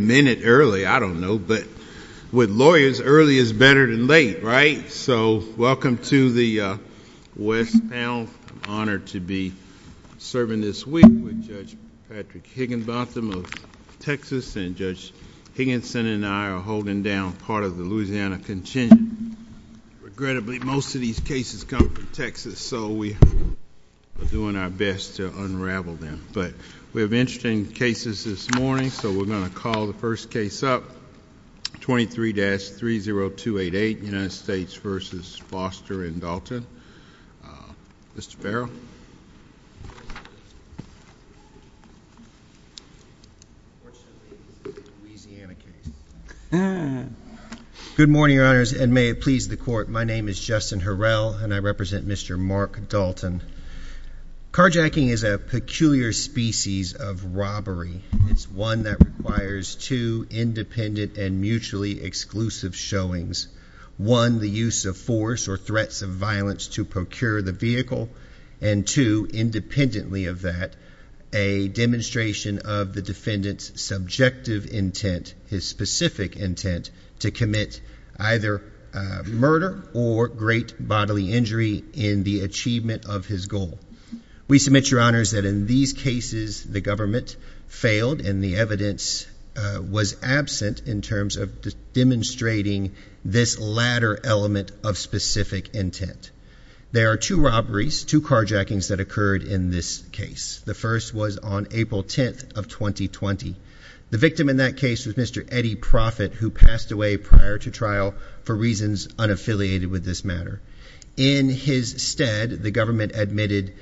minute early I don't know but with lawyers early is better than late right so welcome to the West panel honored to be serving this week with Judge Patrick Higginbotham of Texas and Judge Higginson and I are holding down part of the Louisiana contingent regrettably most of these cases come from Texas so we are doing our best to unravel them but we have interesting cases this will not call the first case up 23-30288 United States v. Foster and Dalton. Mr. Farrell. Good morning your honors and may it please the court my name is Justin Harrell and I represent Mr. Mark Dalton. Carjacking is a peculiar species of requires two independent and mutually exclusive showings one the use of force or threats of violence to procure the vehicle and two independently of that a demonstration of the defendant's subjective intent his specific intent to commit either murder or great bodily injury in the achievement of his goal we submit your honors that in these cases the government failed in the evidence was absent in terms of demonstrating this latter element of specific intent there are two robberies to carjackings that occurred in this case the first was on April 10th of 2020 the victim in that case with Mr. Eddie profit who passed away prior to trial for reasons unaffiliated with this matter in his instead the government admitted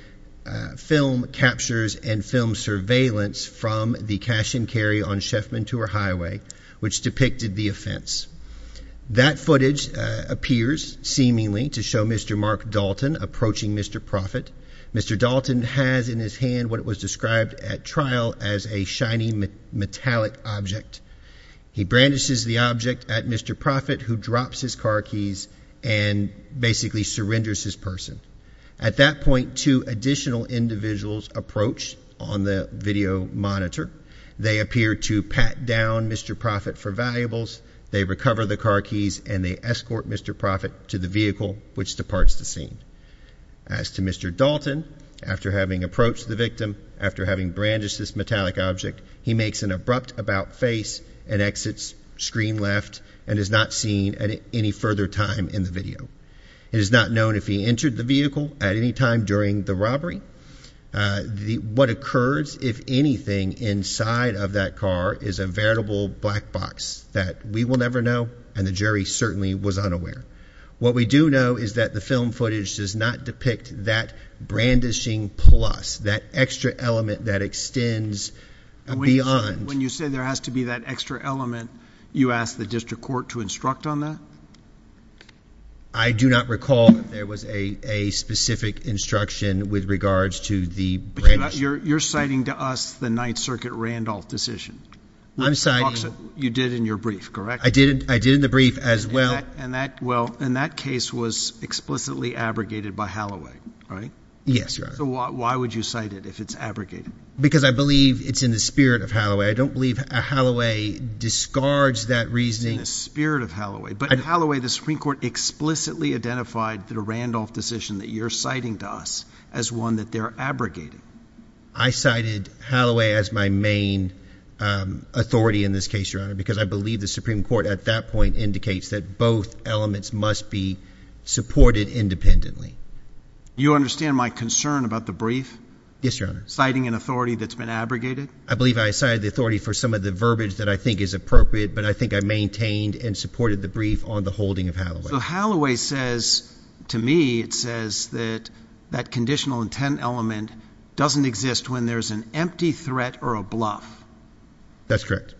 film captures and film surveillance from the cash and carry on Sheffman tour highway which depicted the offense that footage appears seemingly to show Mr. Mark Dalton approaching Mr. profit Mr. Dalton has in his hand what was described at trial as a shiny metallic object he branches the object at Mr. profit who drops his car keys and basically surrenders his person at that point to additional individuals approach on the video monitor they appear to pat down Mr. profit for valuables they recover the car keys and they escort Mr. profit to the vehicle which departs the scene as to Mr. Dalton after having approached the victim after having branches this metallic object he makes an abrupt about face and exits screen left and is not seen at any further time in the video is not known if he entered the vehicle at any time during the robbery the what occurs if anything inside of that car is a variable black box that we will never know and the jury certainly was unaware what we do know is that the film footage does not depict that brandishing plus that extra element that extends when you say there has to be that extra element you ask the district court to instruct on that I do not recall there was a a specific instruction with regards to the but you're not you're you're citing to us the Ninth Circuit Randolph decision I'm sorry you did in your brief correct I didn't I did in the brief as well and that well in that case was explicitly abrogated by Halloway right yes why would you cite it if it's abrogated because I believe it's in the spirit of Halloway I don't believe a Halloway discards that reasoning the spirit of Halloway but Halloway the Supreme Court explicitly identified that a Randolph decision that you're citing to us as one that they're abrogated I cited Halloway as my main authority in this case your honor because I believe the Supreme Court at that point indicates that both elements must be supported independently you understand my concern about the brief yes your honor citing an authority that's been abrogated I believe I the authority for some of the verbiage that I think is appropriate but I think I maintained and supported the brief on the holding of how the Halloway says to me it says that that conditional intent element doesn't exist when there's an empty threat or a bluff that's correct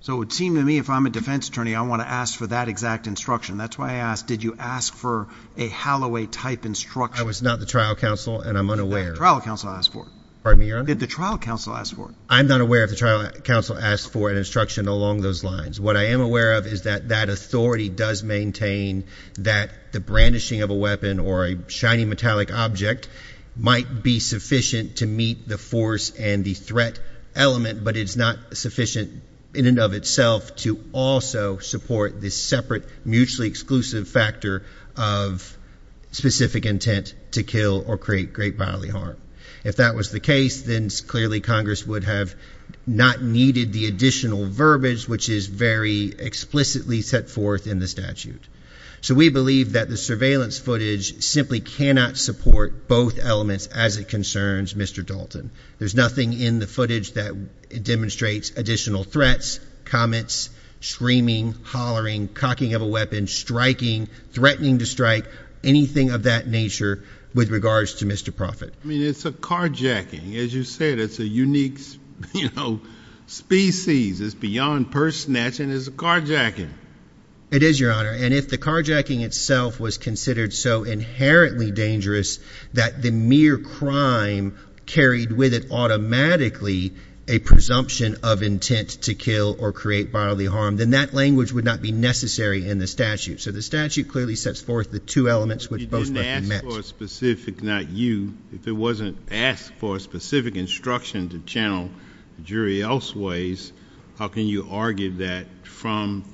so it seemed to me if I'm a defense attorney I want to ask for that exact instruction that's why I asked did you ask for a Halloway type instruction I was not the trial counsel and I'm unaware trial counsel asked for pardon me your did the trial counsel asked for I'm not aware of the trial counsel asked for an instruction along those lines what I am aware of is that that authority does maintain that the brandishing of a weapon or a shiny metallic object might be sufficient to meet the force and the threat element but it's not sufficient in and of itself to also support this separate mutually exclusive factor of specific intent to kill or create great bodily harm if that was the case then clearly Congress would have not needed the additional verbiage which is very explicitly set forth in the statute so we believe that the surveillance footage simply cannot support both elements as it concerns mr. Dalton there's nothing in the footage that demonstrates additional threats comments screaming hollering cocking of a weapon striking threatening to strike anything of that nature with regards to species is beyond purse snatch and is a carjacking it is your honor and if the carjacking itself was considered so inherently dangerous that the mere crime carried with it automatically a presumption of intent to kill or create bodily harm then that language would not be necessary in the statute so the statute clearly sets forth the two elements which doesn't ask for a specific not you if it wasn't asked for a specific instruction to channel jury else ways how can you argue that from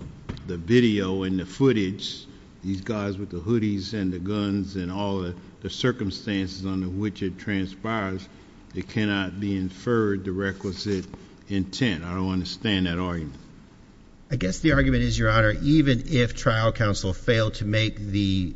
the video and the footage these guys with the hoodies and the guns and all the circumstances under which it transpires it cannot be inferred the requisite intent I don't understand that argument I guess the argument is your honor even if trial counsel failed to make the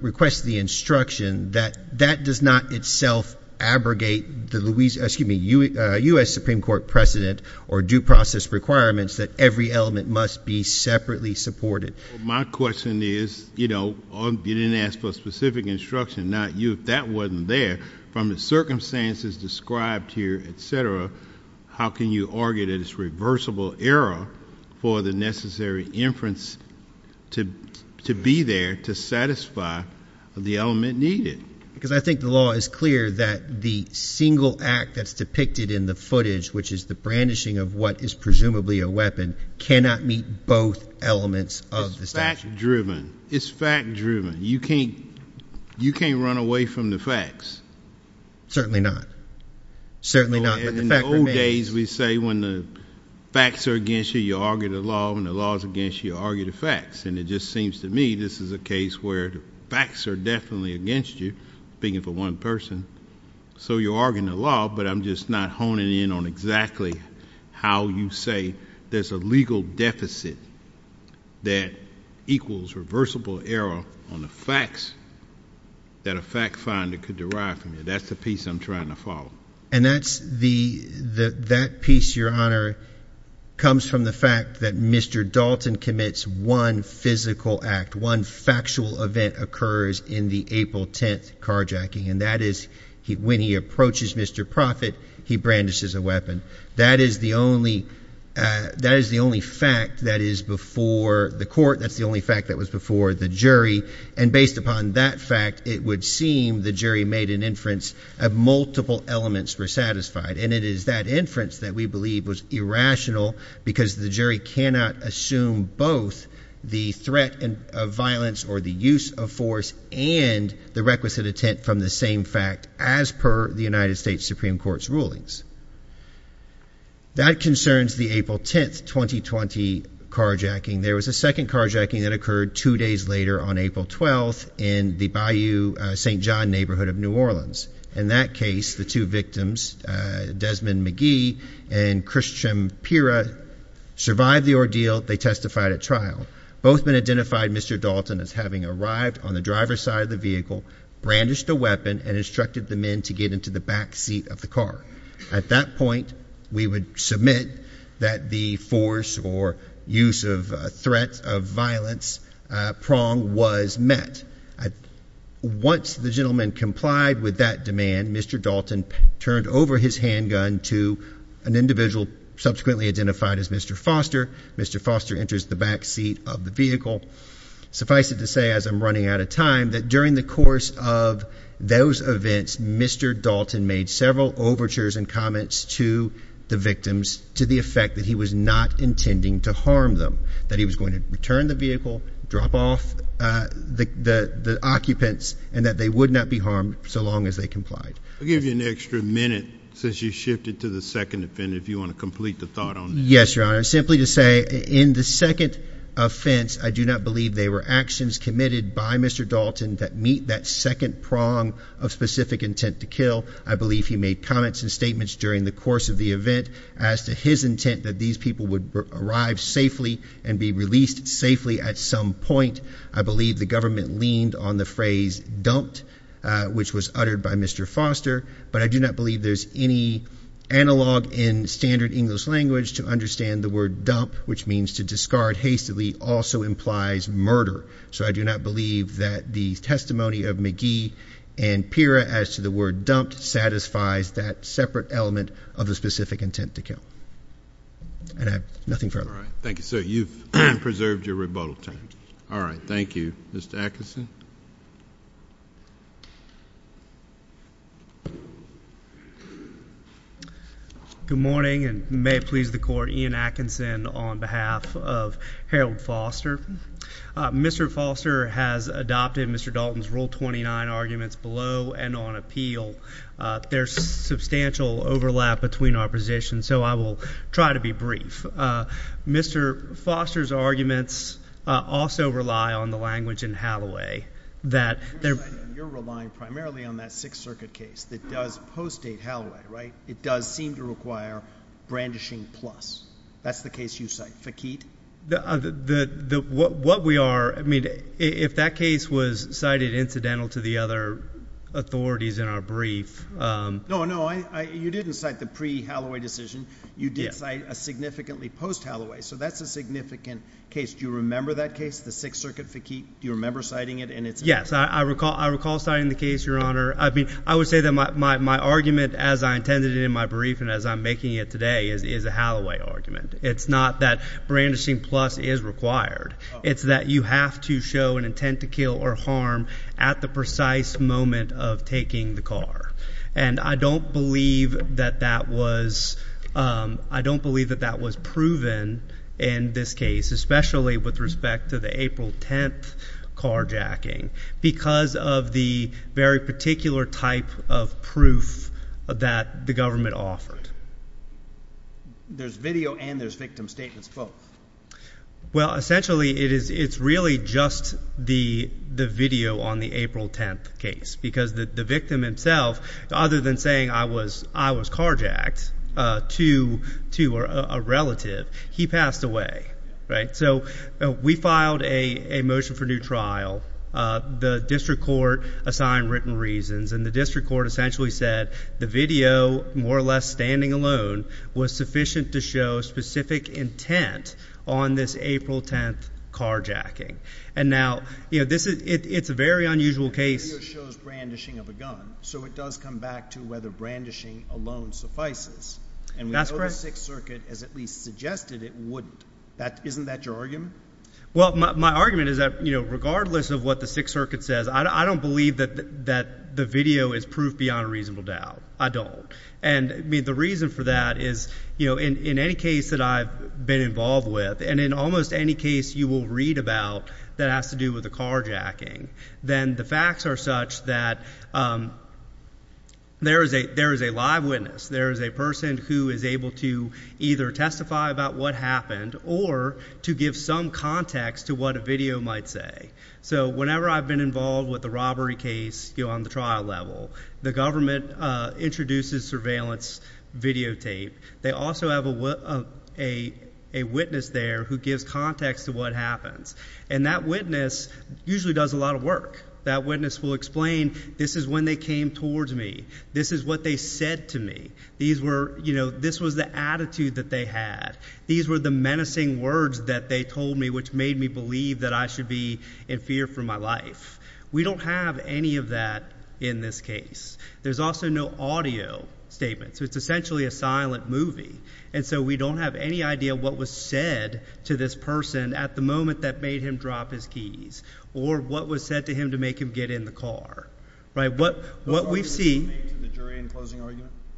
request the instruction that that does not itself abrogate the Louisiana US Supreme Court precedent or due process requirements that every element must be separately supported my question is you know you didn't ask for specific instruction not you if that wasn't there from the circumstances described here etc how can you argue that it's reversible error for the there to satisfy the element needed because I think the law is clear that the single act that's depicted in the footage which is the brandishing of what is presumably a weapon cannot meet both elements of the statute driven it's fact-driven you can't you can't run away from the facts certainly not certainly not in the old days we say when the facts are against you you argue the law and the laws against you argue the facts and it just seems to me this is a case where the facts are definitely against you being for one person so you're arguing the law but I'm just not honing in on exactly how you say there's a legal deficit that equals reversible error on the facts that a fact-finder could derive from you that's the piece I'm trying to follow and that's the that piece your honor comes from the fact that mr. Dalton commits one physical act one factual event occurs in the April 10th carjacking and that is he when he approaches mr. profit he brandishes a weapon that is the only that is the only fact that is before the court that's the only fact that was before the jury and based upon that fact it would seem the jury made an inference of multiple elements were satisfied and it is that inference that we believe was irrational because the jury cannot assume both the threat and violence or the use of force and the requisite attempt from the same fact as per the United States Supreme Court's rulings that concerns the April 10th 2020 carjacking there was a second carjacking that occurred two days later on April 12th in the bayou st. John neighborhood of New Orleans in that case the two victims Desmond McGee and Christian Pira survived the ordeal they testified at trial both been identified mr. Dalton as having arrived on the driver's side of the vehicle brandished a weapon and instructed the men to get into the back seat of the car at that point we would submit that the force or use of threat of violence prong was met once the gentleman complied with that demand mr. Dalton turned over his handgun to an individual subsequently identified as mr. Foster mr. Foster enters the back seat of the vehicle suffice it to say as I'm running out of time that during the course of those events mr. Dalton made several overtures and comments to the victims to the effect that he was not turn the vehicle drop off the the occupants and that they would not be harmed so long as they complied give you an extra minute since you shifted to the second offender if you want to complete the thought on yes your honor simply to say in the second offense I do not believe they were actions committed by mr. Dalton that meet that second prong of specific intent to kill I believe he made comments and statements during the course of the event as to his intent that these people would arrive safely and be released safely at some point I believe the government leaned on the phrase don't which was uttered by mr. Foster but I do not believe there's any analog in standard English language to understand the word dump which means to discard hastily also implies murder so I do not believe that the testimony of McGee and Pira as to the word dumped satisfies that separate element of the specific intent to kill and I have nothing further thank you sir you've preserved your rebuttal time all right thank you mr. Atkinson good morning and may please the court in Atkinson on behalf of Harold Foster mr. Foster has adopted mr. Dalton's rule 29 arguments below and on appeal there's substantial overlap between our position so I will try to be brief mr. Foster's arguments also rely on the language in Halloway that they're relying primarily on that Sixth Circuit case that does post a Halloway right it does seem to require brandishing plus that's the case you cite the key to the what we are I mean if that case was cited incidental to the other authorities in our brief no no I you didn't cite the pre Halloway decision you did a significantly post Halloway so that's a significant case do you remember that case the Sixth Circuit fatigue do you remember citing it and it's yes I recall I recall citing the case your honor I mean I would say that my argument as I intended in my brief and as I'm making it today is a Halloway argument it's not that brandishing plus is required it's that you have to show an intent to kill or harm at the precise moment of taking the car and I don't believe that that was I don't believe that that was proven in this case especially with respect to the April 10th carjacking because of the very particular type of proof that the government offered there's video and it's really just the the video on the April 10th case because the victim himself other than saying I was I was carjacked to to a relative he passed away right so we filed a a motion for new trial the district court assigned written reasons and the district court essentially said the video more or less standing alone was sufficient to show specific intent on this April 10th carjacking and now you know this is it's a very unusual case so it does come back to whether brandishing alone suffices and that's correct circuit as at least suggested it would that isn't that your argument well my argument is that you know regardless of what the Sixth Circuit says I don't believe that that the video is proof beyond a reasonable doubt I don't and I mean the reason for that is you know in any case that I've been involved with and in almost any case you will read about that has to do with the carjacking then the facts are such that there is a there is a live witness there is a person who is able to either testify about what happened or to give some context to what a video might say so whenever I've been involved with the robbery case you on the trial level the government introduces surveillance videotape they also have a witness there who gives context to what happens and that witness usually does a lot of work that witness will explain this is when they came towards me this is what they said to me these were you know this was the attitude that they had these were the menacing words that they told me which made me believe that I should be in fear for my life we don't have any of that in this case there's also no audio statement so it's essentially a silent movie and so we don't have any idea what was said to this person at the moment that made him drop his keys or what was said to him to make him get in the car right what what we've seen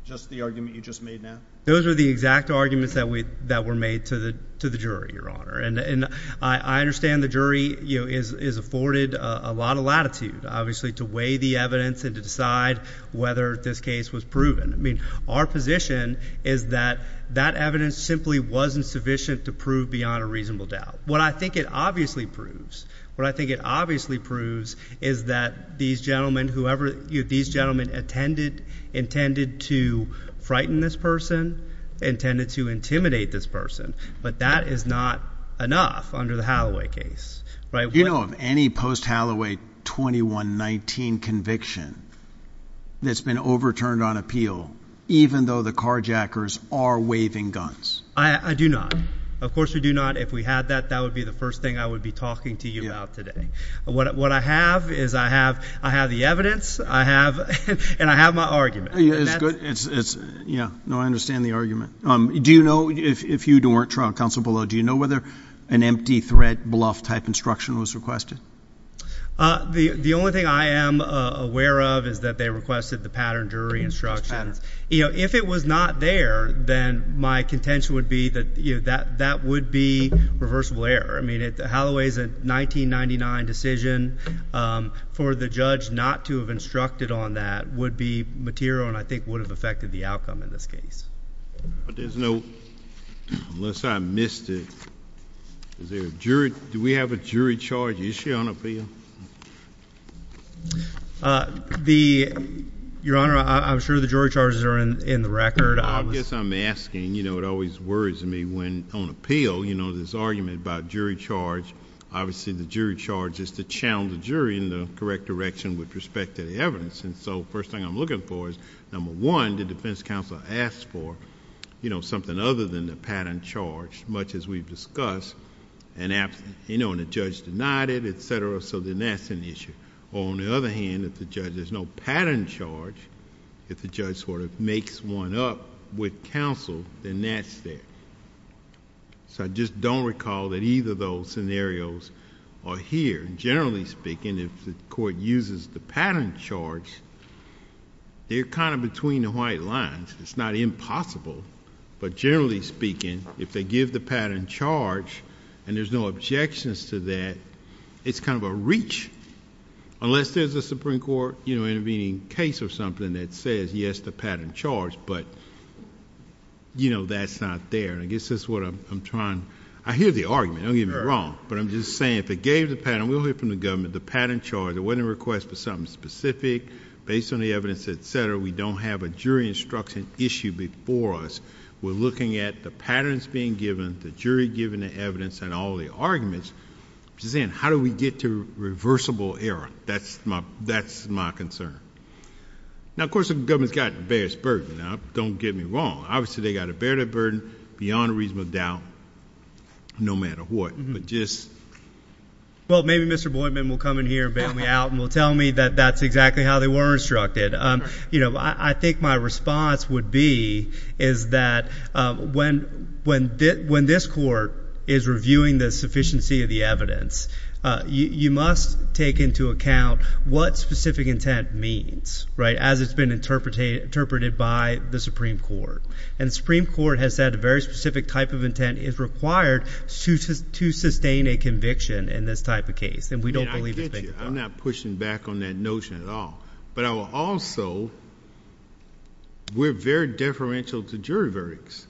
just the argument you just made now those are the exact arguments that we that were made to the to the jury your honor and and I understand the jury you know is is afforded a lot of latitude obviously to the evidence and to decide whether this case was proven I mean our position is that that evidence simply wasn't sufficient to prove beyond a reasonable doubt what I think it obviously proves what I think it obviously proves is that these gentlemen whoever these gentlemen attended intended to frighten this person intended to intimidate this person but that is not enough under the post-halloway 2119 conviction that's been overturned on appeal even though the carjackers are waving guns I do not of course we do not if we had that that would be the first thing I would be talking to you about today what I have is I have I have the evidence I have and I have my argument yeah no I understand the argument um do you know if you don't work trial counsel below do you know whether an empty thread bluff type instruction was requested the the only thing I am aware of is that they requested the pattern jury instructions you know if it was not there then my contention would be that you know that that would be reversible error I mean it the Holloway's a 1999 decision for the judge not to have instructed on that would be material and I think would have affected the outcome in this case but there's no unless I missed it is there jury do we have a jury charge issue on appeal the your honor I'm sure the jury charges are in in the record I guess I'm asking you know it always worries me when on appeal you know this argument about jury charge obviously the jury charge is to challenge the jury in the correct direction with respect to the evidence and so first thing I'm looking for is number one the defense counsel asked for you know something other than the pattern charge much as we've discussed and absent you know and the judge denied it etc so then that's an issue on the other hand if the judge there's no pattern charge if the judge sort of makes one up with counsel then that's there so I just don't recall that either those scenarios are here generally speaking if the court uses the pattern charge they're kind of between the white lines it's not impossible but generally speaking if they give the pattern charge and there's no objections to that it's kind of a reach unless there's a Supreme Court you know intervening case or something that says yes the pattern charge but you know that's not there I guess that's what I'm trying I hear the argument I'll get me wrong but I'm just saying if it gave the pattern we'll hear from the government the pattern charge it wasn't a request for something specific based on the evidence etc we don't have a jury instruction issue before us we're looking at the patterns being given the jury given the evidence and all the arguments saying how do we get to reversible error that's my that's my concern now of course the government's got various burden now don't get me wrong obviously they got a better burden beyond reasonable doubt no matter what well maybe mr. Boyd men will come in here and we out and will tell me that that's exactly how they were instructed you know I think my response would be is that when when did when this court is reviewing the sufficiency of the evidence you must take into account what specific intent means right as it's been interpreted interpreted by the Supreme Court and Supreme Court has said a very specific type of intent is required to sustain a conviction in this type of case and we don't believe I'm not pushing back on that notion at all but I will also we're very deferential to jury verdicts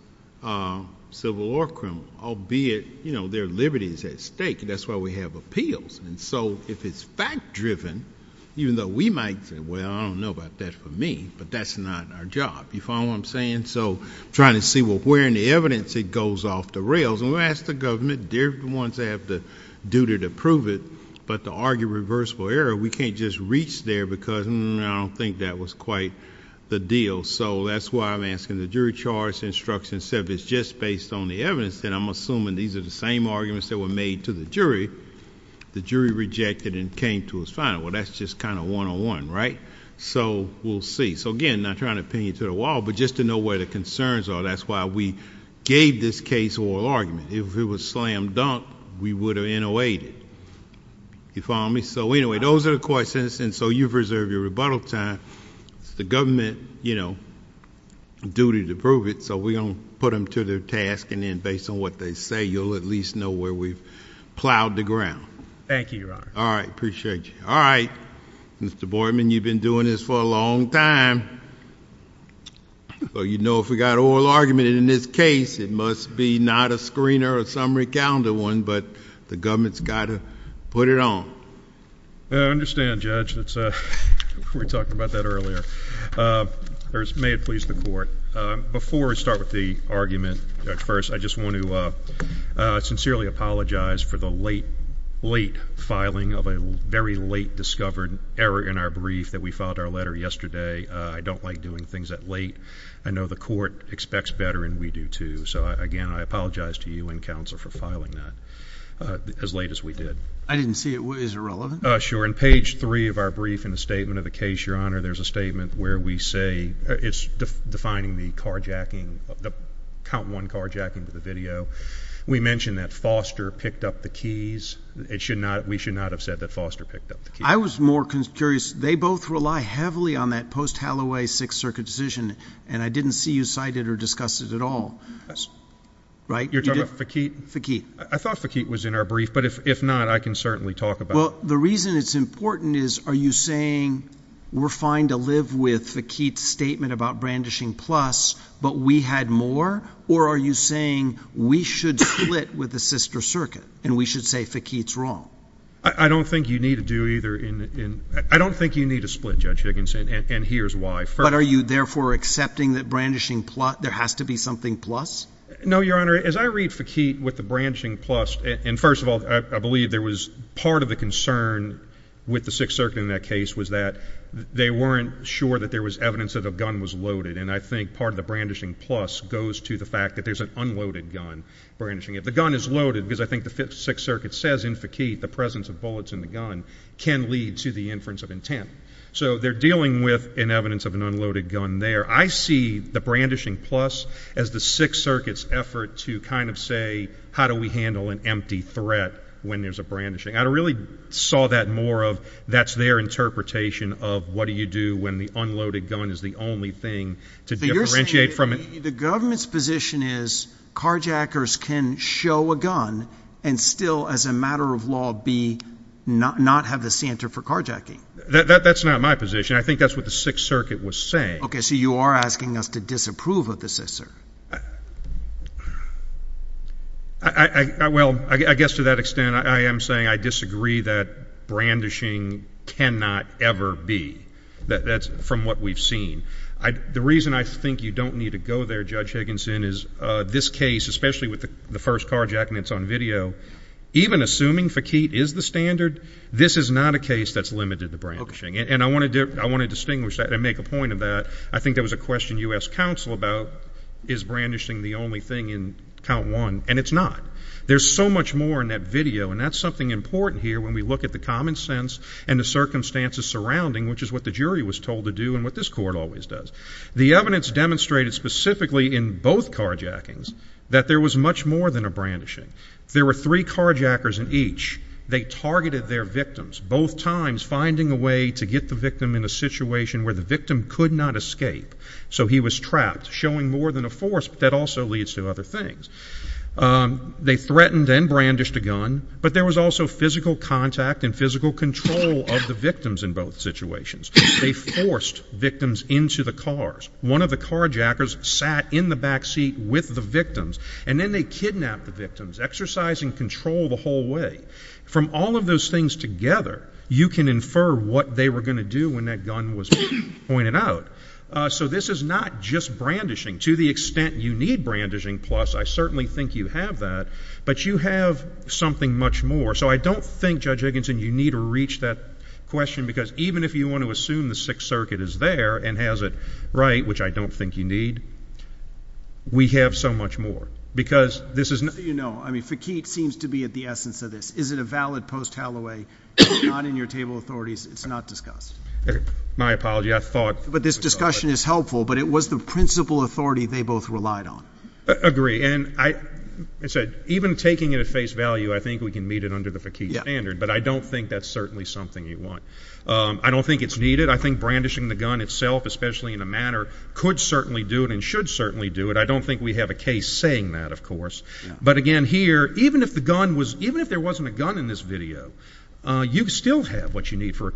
civil or criminal albeit you know their liberties at stake that's why we have appeals and so if it's fact driven even though we might say well I don't know about that for me but that's our job you follow I'm saying so trying to see what we're in the evidence it goes off the rails and we ask the government dear ones have the duty to prove it but to argue reversible error we can't just reach there because I don't think that was quite the deal so that's why I'm asking the jury charge instruction said it's just based on the evidence that I'm assuming these are the same arguments that were made to the jury the jury rejected and came to his well that's just kind of one-on-one right so we'll see so again not trying to pin you to the wall but just to know where the concerns are that's why we gave this case oral argument if it was slam-dunk we would have in a way you follow me so anyway those are the questions and so you've reserved your rebuttal time it's the government you know duty to prove it so we don't put them to their task and then based on what they say you'll at least know where we've plowed the ground thank you all right appreciate you all right mr. Boyd man you've been doing this for a long time well you know if we got oral argument in this case it must be not a screener or summary calendar one but the government's got to put it on I understand judge that's a we talked about that earlier there's may it please the court before we start with the late filing of a very late discovered error in our brief that we filed our letter yesterday I don't like doing things that late I know the court expects better and we do too so again I apologize to you and counsel for filing that as late as we did I didn't see it was irrelevant sure in page three of our brief in the statement of the case your honor there's a statement where we say it's defining the carjacking of the count one carjacking to the video we mention that Foster picked up the keys it should not we should not have said that Foster picked up the key I was more curious they both rely heavily on that post Halloway Sixth Circuit decision and I didn't see you cited or discuss it at all right you're talking about the key the key I thought the key was in our brief but if not I can certainly talk about the reason it's important is are you saying we're fine to live with the Keats statement about brandishing plus but we had more or are you saying we should split with the sister circuit and we should say for Keats wrong I don't think you need to do either in I don't think you need to split judge Higginson and here's why but are you therefore accepting that brandishing plot there has to be something plus no your honor as I read for key with the branching plus and first of all I believe there was part of the concern with the Sixth Circuit in that case was that they weren't sure that there was evidence of the gun was loaded and I think part of brandishing plus goes to the fact that there's an unloaded gun branching if the gun is loaded because I think the fifth Sixth Circuit says in faqeet the presence of bullets in the gun can lead to the inference of intent so they're dealing with an evidence of an unloaded gun there I see the brandishing plus as the Sixth Circuit's effort to kind of say how do we handle an empty threat when there's a brandishing I really saw that more of that's their interpretation of what do you do when the unloaded gun is the only thing to differentiate from it the government's position is carjackers can show a gun and still as a matter of law be not not have the center for carjacking that that's not my position I think that's what the Sixth Circuit was saying okay so you are asking us to disapprove of the sister I well I guess to that extent I am saying I disagree that brandishing cannot ever be that that's from what we've seen I the reason I think you don't need to go there judge Higginson is this case especially with the first carjack and it's on video even assuming faqeet is the standard this is not a case that's limited to brandishing and I want to do I want to distinguish that and make a point of that I think there was a question US Council about is brandishing the only thing in count one and it's not there's so much more in that video and that's something important here when we look at the common sense and the circumstances surrounding which is what the jury was told to do and what this court always does the evidence demonstrated specifically in both carjackings that there was much more than a brandishing there were three carjackers in each they targeted their victims both times finding a way to get the victim in a situation where the victim could not escape so he was trapped showing more than a force that also leads to other things they threatened and brandished a gun but there was also physical contact and physical control of the victims in both situations forced victims into the cars one of the carjackers sat in the back seat with the victims and then they kidnapped victims exercising control the whole way from all of those things together you can infer what they were going to do when that gun was pointed out so this is not just brandishing to the extent you need brandishing plus I certainly think you have that but you have something much more so I don't think judge Higginson you need to reach that question because even if you want to assume the Sixth Circuit is there and has it right which I don't think you need we have so much more because this is no I mean for Keith seems to be at the essence of this is it a valid post Halloway not in your table authorities it's not discussed my apology I thought but this discussion is helpful but it was the principal authority they both relied on agree and I said even taking it at face value I think we can meet it under the Faki standard but I don't think that's certainly something you want I don't think it's needed I think brandishing the gun itself especially in a manner could certainly do it and should certainly do it I don't think we have a case saying that of course but again here even if the gun was even if there wasn't a gun in this video you still have what you need for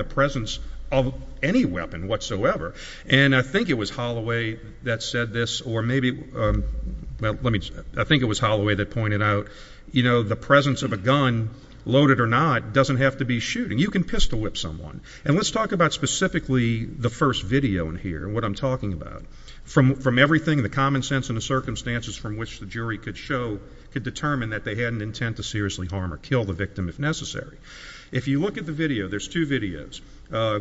a presence of any weapon whatsoever and I think it was Holloway that said this or maybe well let me I think it was Holloway that pointed out you know the presence of a gun loaded or not doesn't have to be shooting you can pistol whip someone and let's talk about specifically the first video in here what I'm talking about from from everything the common sense and the circumstances from which the jury could show could determine that they had an intent to seriously harm or kill the victim if necessary if you look at the videos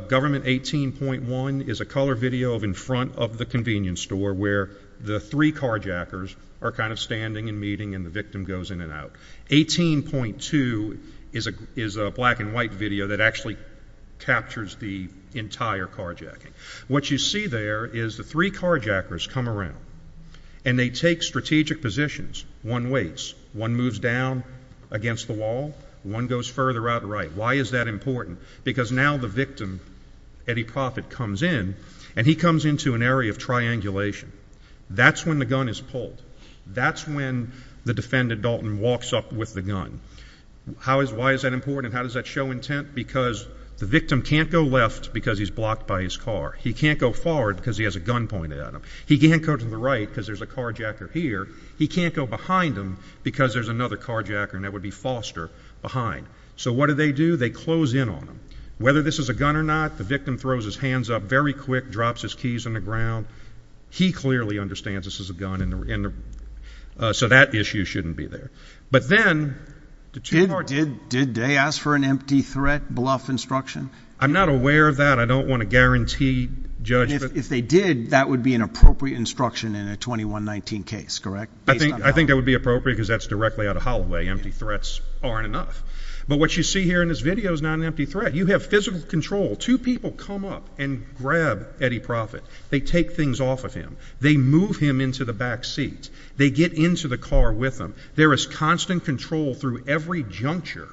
government 18.1 is a color video of in front of the convenience store where the three carjackers are kind of standing and meeting and the victim goes in and out 18.2 is a is a black-and-white video that actually captures the entire carjacking what you see there is the three carjackers come around and they take strategic positions one weights one moves down against the one goes further out right why is that important because now the victim Eddie Proffitt comes in and he comes into an area of triangulation that's when the gun is pulled that's when the defendant Dalton walks up with the gun how is why is that important how does that show intent because the victim can't go left because he's blocked by his car he can't go forward because he has a gun pointed at him he can't go to the right because there's a carjacker here he can't go behind him because there's another carjacker and that would be Foster behind so what do they do they close in on whether this is a gun or not the victim throws his hands up very quick drops his keys on the ground he clearly understands this is a gun in the end so that issue shouldn't be there but then did they ask for an empty threat bluff instruction I'm not aware of that I don't want to guarantee if they did that would be an appropriate instruction in a correct I think I think that would be appropriate because that's directly out of Holloway empty threats aren't enough but what you see here in this video is not an empty threat you have physical control two people come up and grab Eddie Proffitt they take things off of him they move him into the back seat they get into the car with them there is constant control through every juncture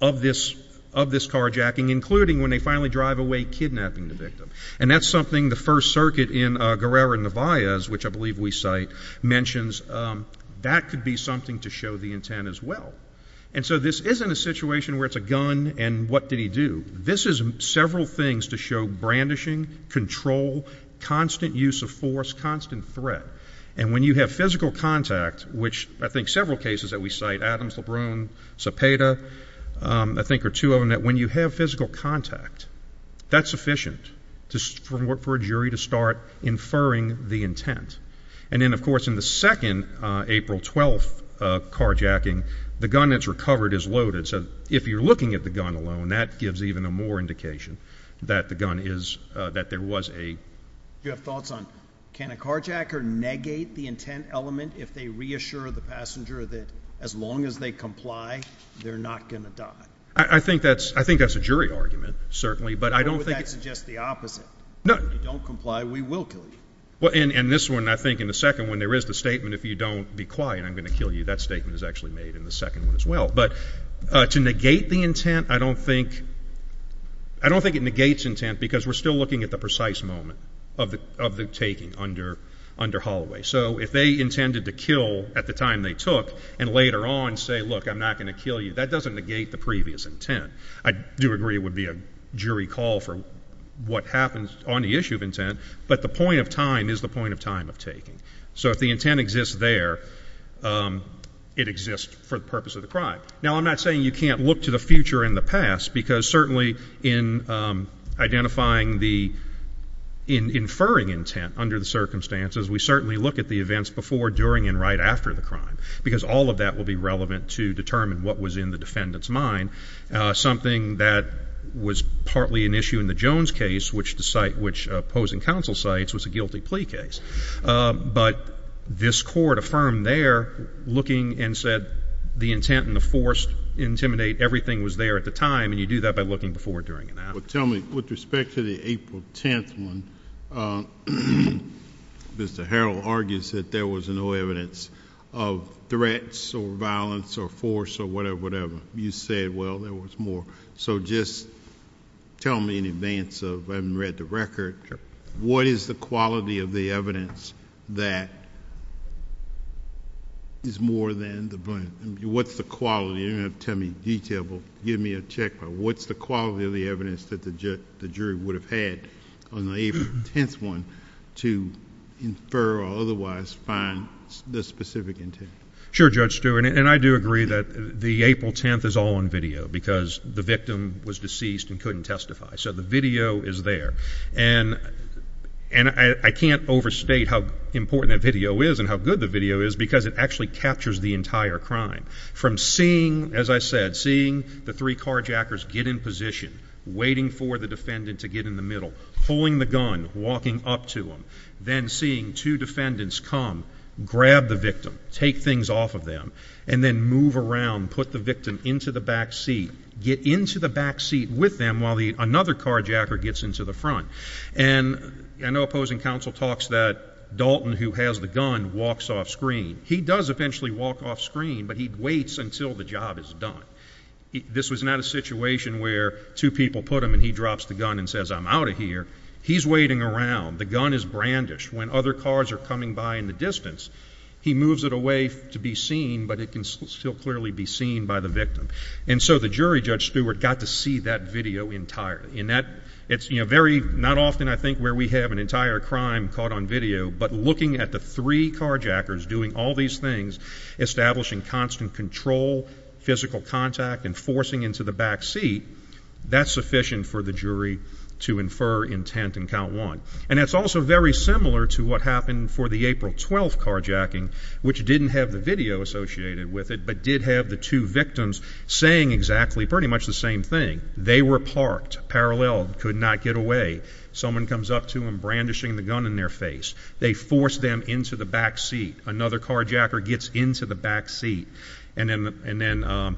of this of this carjacking including when they finally drive away kidnapping the victim and that's something the First Circuit in Guerrero in the vias which I believe we cite mentions that could be something to show the intent as well and so this isn't a situation where it's a gun and what did he do this is several things to show brandishing control constant use of force constant threat and when you have physical contact which I think several cases that we cite Adams LeBrun Cepeda I think are two of them that when you have physical contact that's sufficient to work for a jury to start inferring the intent and then of course in the second April 12th carjacking the gun that's recovered is loaded so if you're looking at the gun alone that gives even a more indication that the gun is that there was a you have thoughts on can a carjacker negate the intent element if they reassure the passenger that as long as they comply they're not gonna die I think that's I think that's a jury argument certainly but I don't think it's just the opposite no don't comply we will kill you well and and this one I think in the second when there is the statement if you don't be quiet I'm gonna kill you that statement is actually made in the second as well but to negate the intent I don't think I don't think it negates intent because we're still looking at the precise moment of the of the taking under under Holloway so if they intended to kill at the time they took and later on say look I'm not going to kill you that doesn't negate the previous intent I do agree it would be a jury call for what happens on the issue of intent but the point of time is the point of time of taking so if the intent exists there it exists for the purpose of the crime now I'm not saying you can't look to the future in the past because certainly in identifying the inferring intent under the circumstances we certainly look at the events before during and right after the crime because all of that will be relevant to determine what was in the defendants mind something that was partly an issue in the Jones case which the site which opposing counsel sites was a guilty plea case but this court affirmed they're looking and said the intent and the forced intimidate everything was there at the time and you do that by looking before doing it now but tell me with respect to the April 10th one mr. Harrell argues that there was no evidence of threats or violence or force or whatever whatever you said well there was more so just tell me in advance of having read the record what is the quality of the evidence that is more than the point what's the quality you're going to tell me detail will give me a check but what's the quality of the evidence that the judge the jury would have had on the April 10th one to infer or otherwise find the specific intent sure judge Stewart and I do agree that the April 10th is all on video because the victim was deceased and couldn't testify so the video is there and and I can't overstate how important that video is and how good the video is because it actually captures the entire crime from seeing as I said seeing the three carjackers get in position waiting for the defendant to get in the middle pulling the gun walking up to him then seeing two defendants come grab the victim take things off of them and then move around put the victim into the backseat get into the backseat with them while the another carjacker gets into the front and opposing counsel talks that Dalton who has the gun walks off screen he does eventually walk off screen but he waits until the job is done this was not a situation where two people put him and he drops the gun and says I'm out of here he's waiting around the gun is brandish when other cars are coming by in the distance he moves it away to be seen but it can still clearly be seen by the victim and so the jury judge Stewart got to see that video entirely in that it's you know very not often I think where we have an entire crime caught on video but looking at the three carjackers doing all these things establishing constant control physical contact and forcing into the backseat that's sufficient for the jury to infer intent and count one and it's also very similar to what happened for the April 12th carjacking which didn't have the video associated with it but did have the two victims saying exactly pretty much the same thing they were parked parallel could not get away someone comes up to him brandishing the gun in their face they force them into the backseat another carjacker gets into the backseat and then and then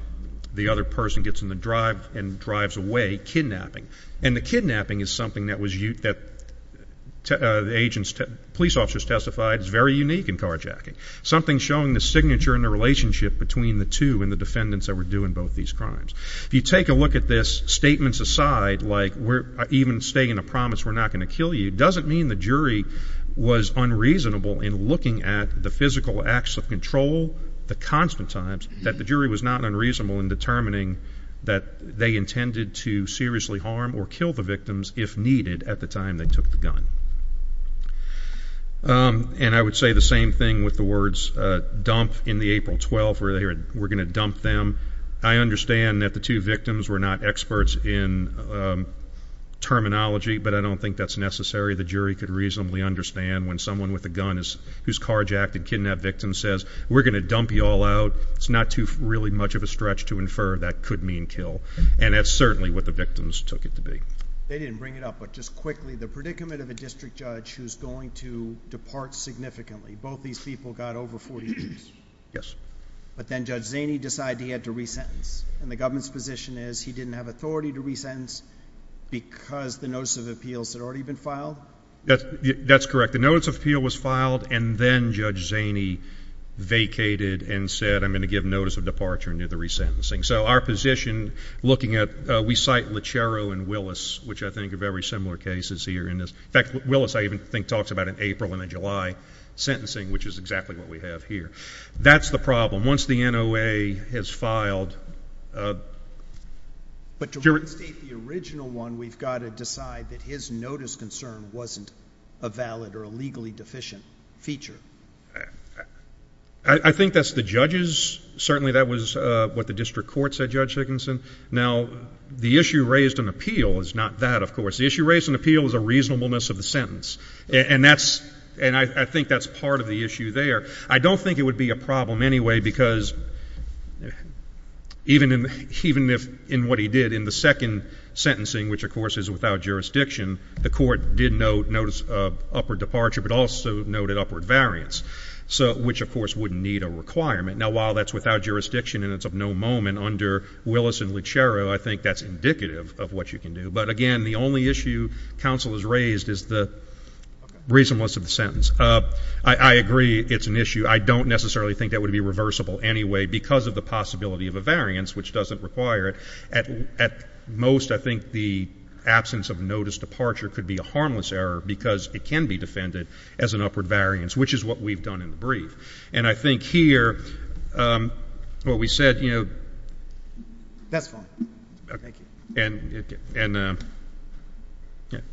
the other person gets in the drive and drives away kidnapping and the kidnapping is something that was used that agents to police officers testified is very unique in carjacking something showing the signature in the relationship between the two and the defendants that were doing both these crimes if you take a look at this statements aside like we're even staying a promise we're not going to kill you doesn't mean the jury was unreasonable in looking at the physical acts of control the constant times that the jury was not unreasonable in determining that they intended to seriously harm or kill the victims if needed at the time they took the gun and I would say the same thing with the words dump in the April 12th where they were going to dump them I understand that the two victims were not experts in terminology but I don't think that's necessary the jury could reasonably understand when someone with a gun is who's carjacked and kidnapped victim says we're gonna dump you all out it's not too really much of a stretch to infer that could mean kill and that's certainly what the victims took it to be they didn't bring it up but just quickly the predicament of a district judge who's going to depart significantly both these people got over 40 years yes but then judge Zaney decided he had to resentence and the government's position is he didn't have authority to resentence because the notice of appeals had already been filed that's that's correct the notice of appeal was filed and then judge Zaney vacated and said I'm going to give notice of departure near the resentencing so our position looking at we cite Lechero and Willis which I think of every similar cases here in this fact Willis I even think talks about in April in a July sentencing which is exactly what we have here that's the problem once the NOA has filed but your original one we've got to wasn't a valid or a legally deficient feature I think that's the judges certainly that was what the district court said judge Higginson now the issue raised an appeal is not that of course the issue raised an appeal is a reasonableness of the sentence and that's and I think that's part of the issue there I don't think it would be a problem anyway because even in even if in what he did in the second sentencing which of course is without jurisdiction the court did note notice of upward departure but also noted upward variance so which of course wouldn't need a requirement now while that's without jurisdiction and it's of no moment under Willis and Lechero I think that's indicative of what you can do but again the only issue counsel is raised is the reasonableness of the sentence I agree it's an issue I don't necessarily think that would be reversible anyway because of the possibility of a variance which doesn't require it at at most I think the absence of notice departure could be a harmless error because it can be defended as an upward variance which is what we've done in the brief and I think here what we said you know that's fine okay and and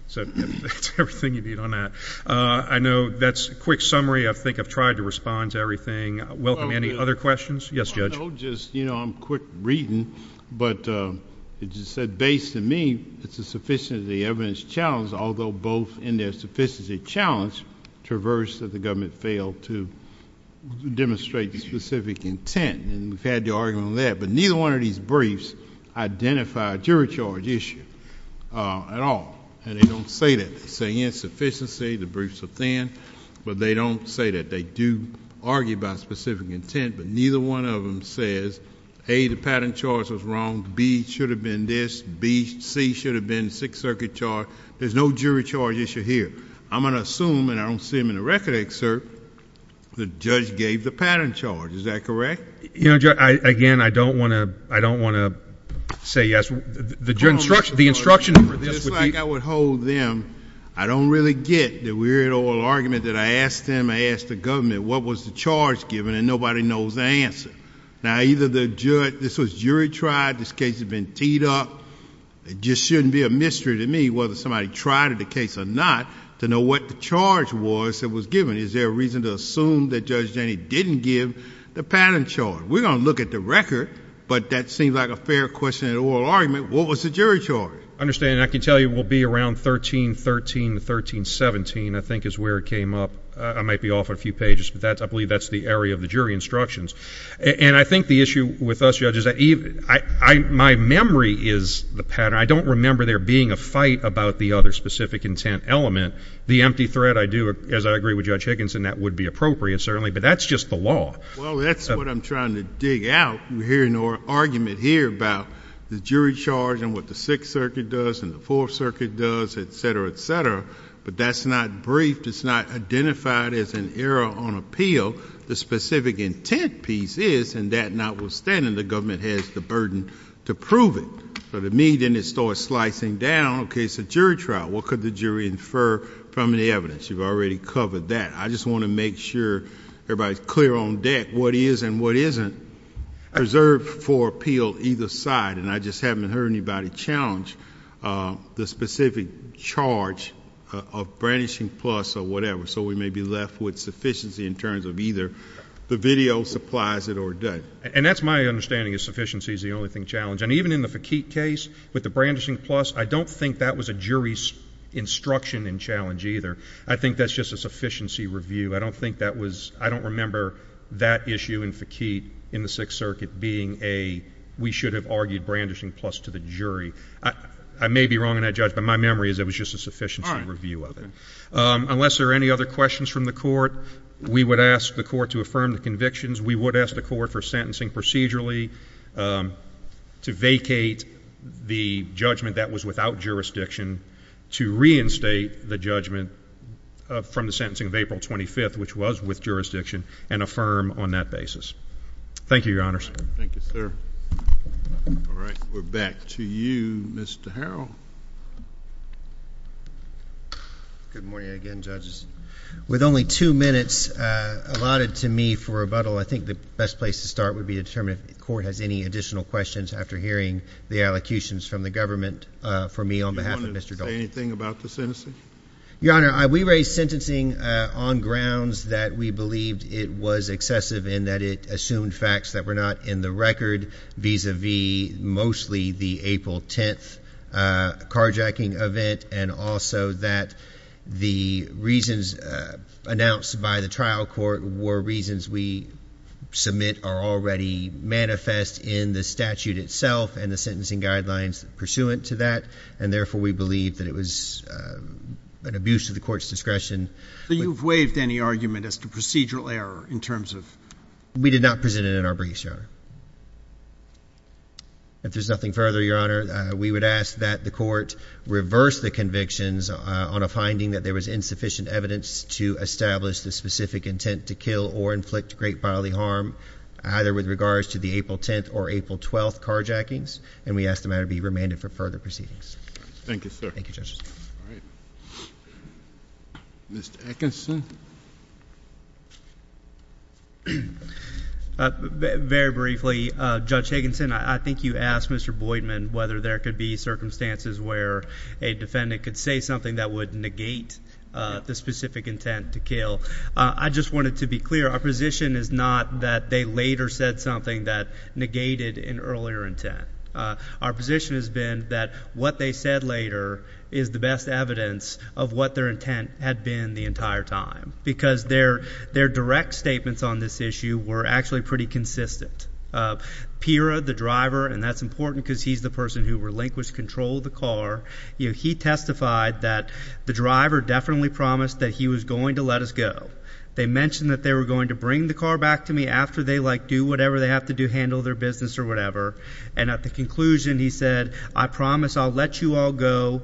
so everything you need on that I know that's a quick summary I think I've tried to respond to everything welcome any other questions yes judge just you know I'm quick reading but it just said based on me it's a sufficient of the evidence challenge although both in their sufficiency challenge traverse that the government failed to demonstrate the specific intent and we've had the argument there but neither one of these briefs identified jury charge issue at all and they don't say that they say insufficiency the briefs are thin but they don't say that they do argue about specific intent but neither one of them says a the pattern charge was wrong B should have been this B C should have been Sixth Circuit charge there's no jury charge issue here I'm gonna assume and I don't see him in the record excerpt the judge gave the pattern charge is that correct you know again I don't want to I don't want to say yes the joint structure the instruction I would hold them I don't really get the weird oral argument that I asked him I asked the what was the charge given and nobody knows answer now either the judge this was jury tried this case has been teed up it just shouldn't be a mystery to me whether somebody tried at the case or not to know what the charge was that was given is there a reason to assume that judge Danny didn't give the pattern charge we're gonna look at the record but that seems like a fair question at oral argument what was the jury charge understand I can tell you will be around 1313 1317 I think is where it came up I might be off a few pages but that's I believe that's the area of the jury instructions and I think the issue with us judges that even I my memory is the pattern I don't remember there being a fight about the other specific intent element the empty thread I do as I agree with judge Higgins and that would be appropriate certainly but that's just the law well that's what I'm trying to dig out we're hearing or argument here about the jury charge and what the Sixth Circuit does and the Fourth Circuit does etc etc but that's not briefed it's not identified as an error on appeal the specific intent piece is and that notwithstanding the government has the burden to prove it but it mean didn't it start slicing down okay it's a jury trial what could the jury infer from the evidence you've already covered that I just want to make sure everybody's clear on deck what is and what isn't preserved for appeal either side and I just haven't heard anybody challenge the specific charge of brandishing plus or whatever so we may be left with sufficiency in terms of either the video supplies it or dead and that's my understanding is sufficiency is the only thing challenge and even in the faqeet case with the brandishing plus I don't think that was a jury instruction and challenge either I think that's just a sufficiency review I don't think that was I don't remember that issue in faqeet in the Sixth Circuit being a we should have argued brandishing plus to the jury I may be wrong and I judged but my memory is it was just a sufficiency review other unless there are any other questions from the court we would ask the court to affirm the convictions we would ask the court for sentencing procedurally to vacate the judgment that was without jurisdiction to reinstate the judgment from the sentencing of April 25th which was with jurisdiction and affirm on that basis thank you your honor sir thank you sir all right we're back to you mr. how good morning again judges with only two minutes allotted to me for rebuttal I think the best place to start would be to determine if the court has any additional questions after hearing the allocutions from the government for me on behalf of mr. don't say anything about the citizen your honor I we raise sentencing on grounds that we believed it was excessive in that it assumed facts that were not in the record vis-a-vis mostly the April 10th carjacking event and also that the reasons announced by the trial court were reasons we submit are already manifest in the statute itself and the therefore we believe that it was an abuse of the court's discretion but you've waived any argument as to procedural error in terms of we did not present it in our briefs your honor if there's nothing further your honor we would ask that the court reverse the convictions on a finding that there was insufficient evidence to establish the specific intent to kill or inflict great bodily harm either with regards to the April 10th or April 12th carjackings and we ask the matter be remanded for further proceedings thank you sir thank you judges mr. Atkinson very briefly judge Higginson I think you asked mr. Boyd men whether there could be circumstances where a defendant could say something that would negate the specific intent to kill I just wanted to be clear our position is not that they later said something that negated in earlier intent our position has been that what they said later is the best evidence of what their intent had been the entire time because their their direct statements on this issue were actually pretty consistent Pira the driver and that's important because he's the person who relinquished control of the car you know he testified that the driver definitely promised that he was going to let us go they mentioned that they were going to bring the car back to me after they like do whatever they have to do handle their business or whatever and at the conclusion he said I promise I'll let you all go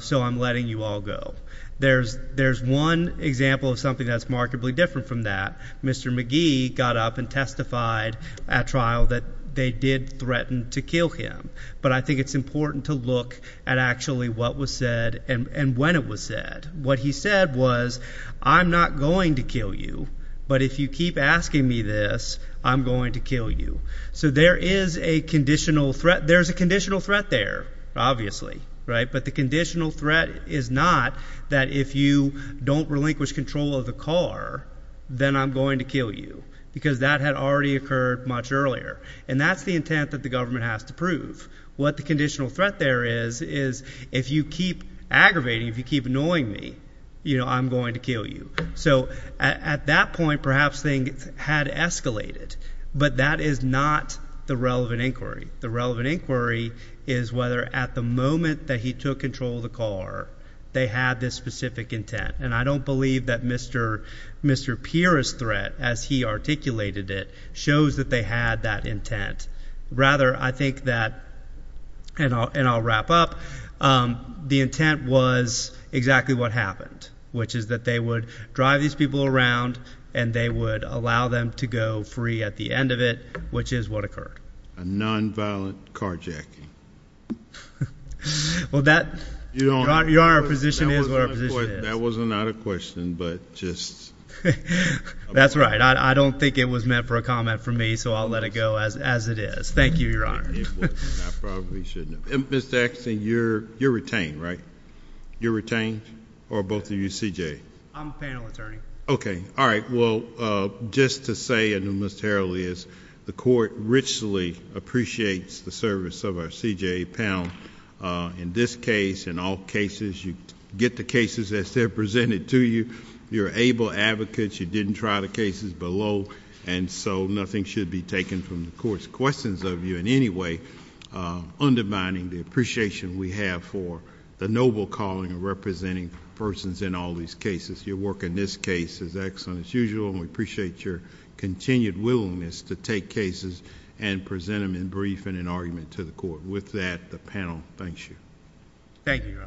so I'm letting you all go there's there's one example of something that's markedly different from that mr. McGee got up and testified at trial that they did threaten to kill him but I think it's important to look at actually what was said and when it was said what he said was I'm not going to kill you but if you keep asking me this I'm going to kill you so there is a conditional threat there's a conditional threat there obviously right but the conditional threat is not that if you don't relinquish control of the car then I'm going to kill you because that had already occurred much earlier and that's the intent that the government has to prove what the conditional threat there is is if you keep aggravating if you keep annoying me you know I'm going to kill you so at that point perhaps thing had escalated but that is not the relevant inquiry the relevant inquiry is whether at the moment that he took control of the car they had this specific intent and I don't believe that mr. pierce threat as he articulated it shows that they had that intent rather I think that and I'll wrap up the intent was exactly what happened which is that they would drive these people around and they would allow them to go free at the end of it which is what occurred a nonviolent carjacking well that you don't want your position is that wasn't not a question but just that's right I don't think it was meant for a comment for me so I'll let it go as as it is thank you your honor probably shouldn't have been sex and you're you're retained right you're retained or both of you see I'm panel attorney okay all right well just to say in the most earliest the court richly appreciates the service of our CJA panel in this case in all cases you get the cases as they're presented to you you're able advocates you didn't try the cases below and so nothing should be taken from the court's questions of you in any way undermining the appreciation we have for the noble calling of representing persons in all these cases your work in this case is excellent as usual and we appreciate your continued willingness to take cases and present them in brief in an argument to the court with that the panel thanks you thank you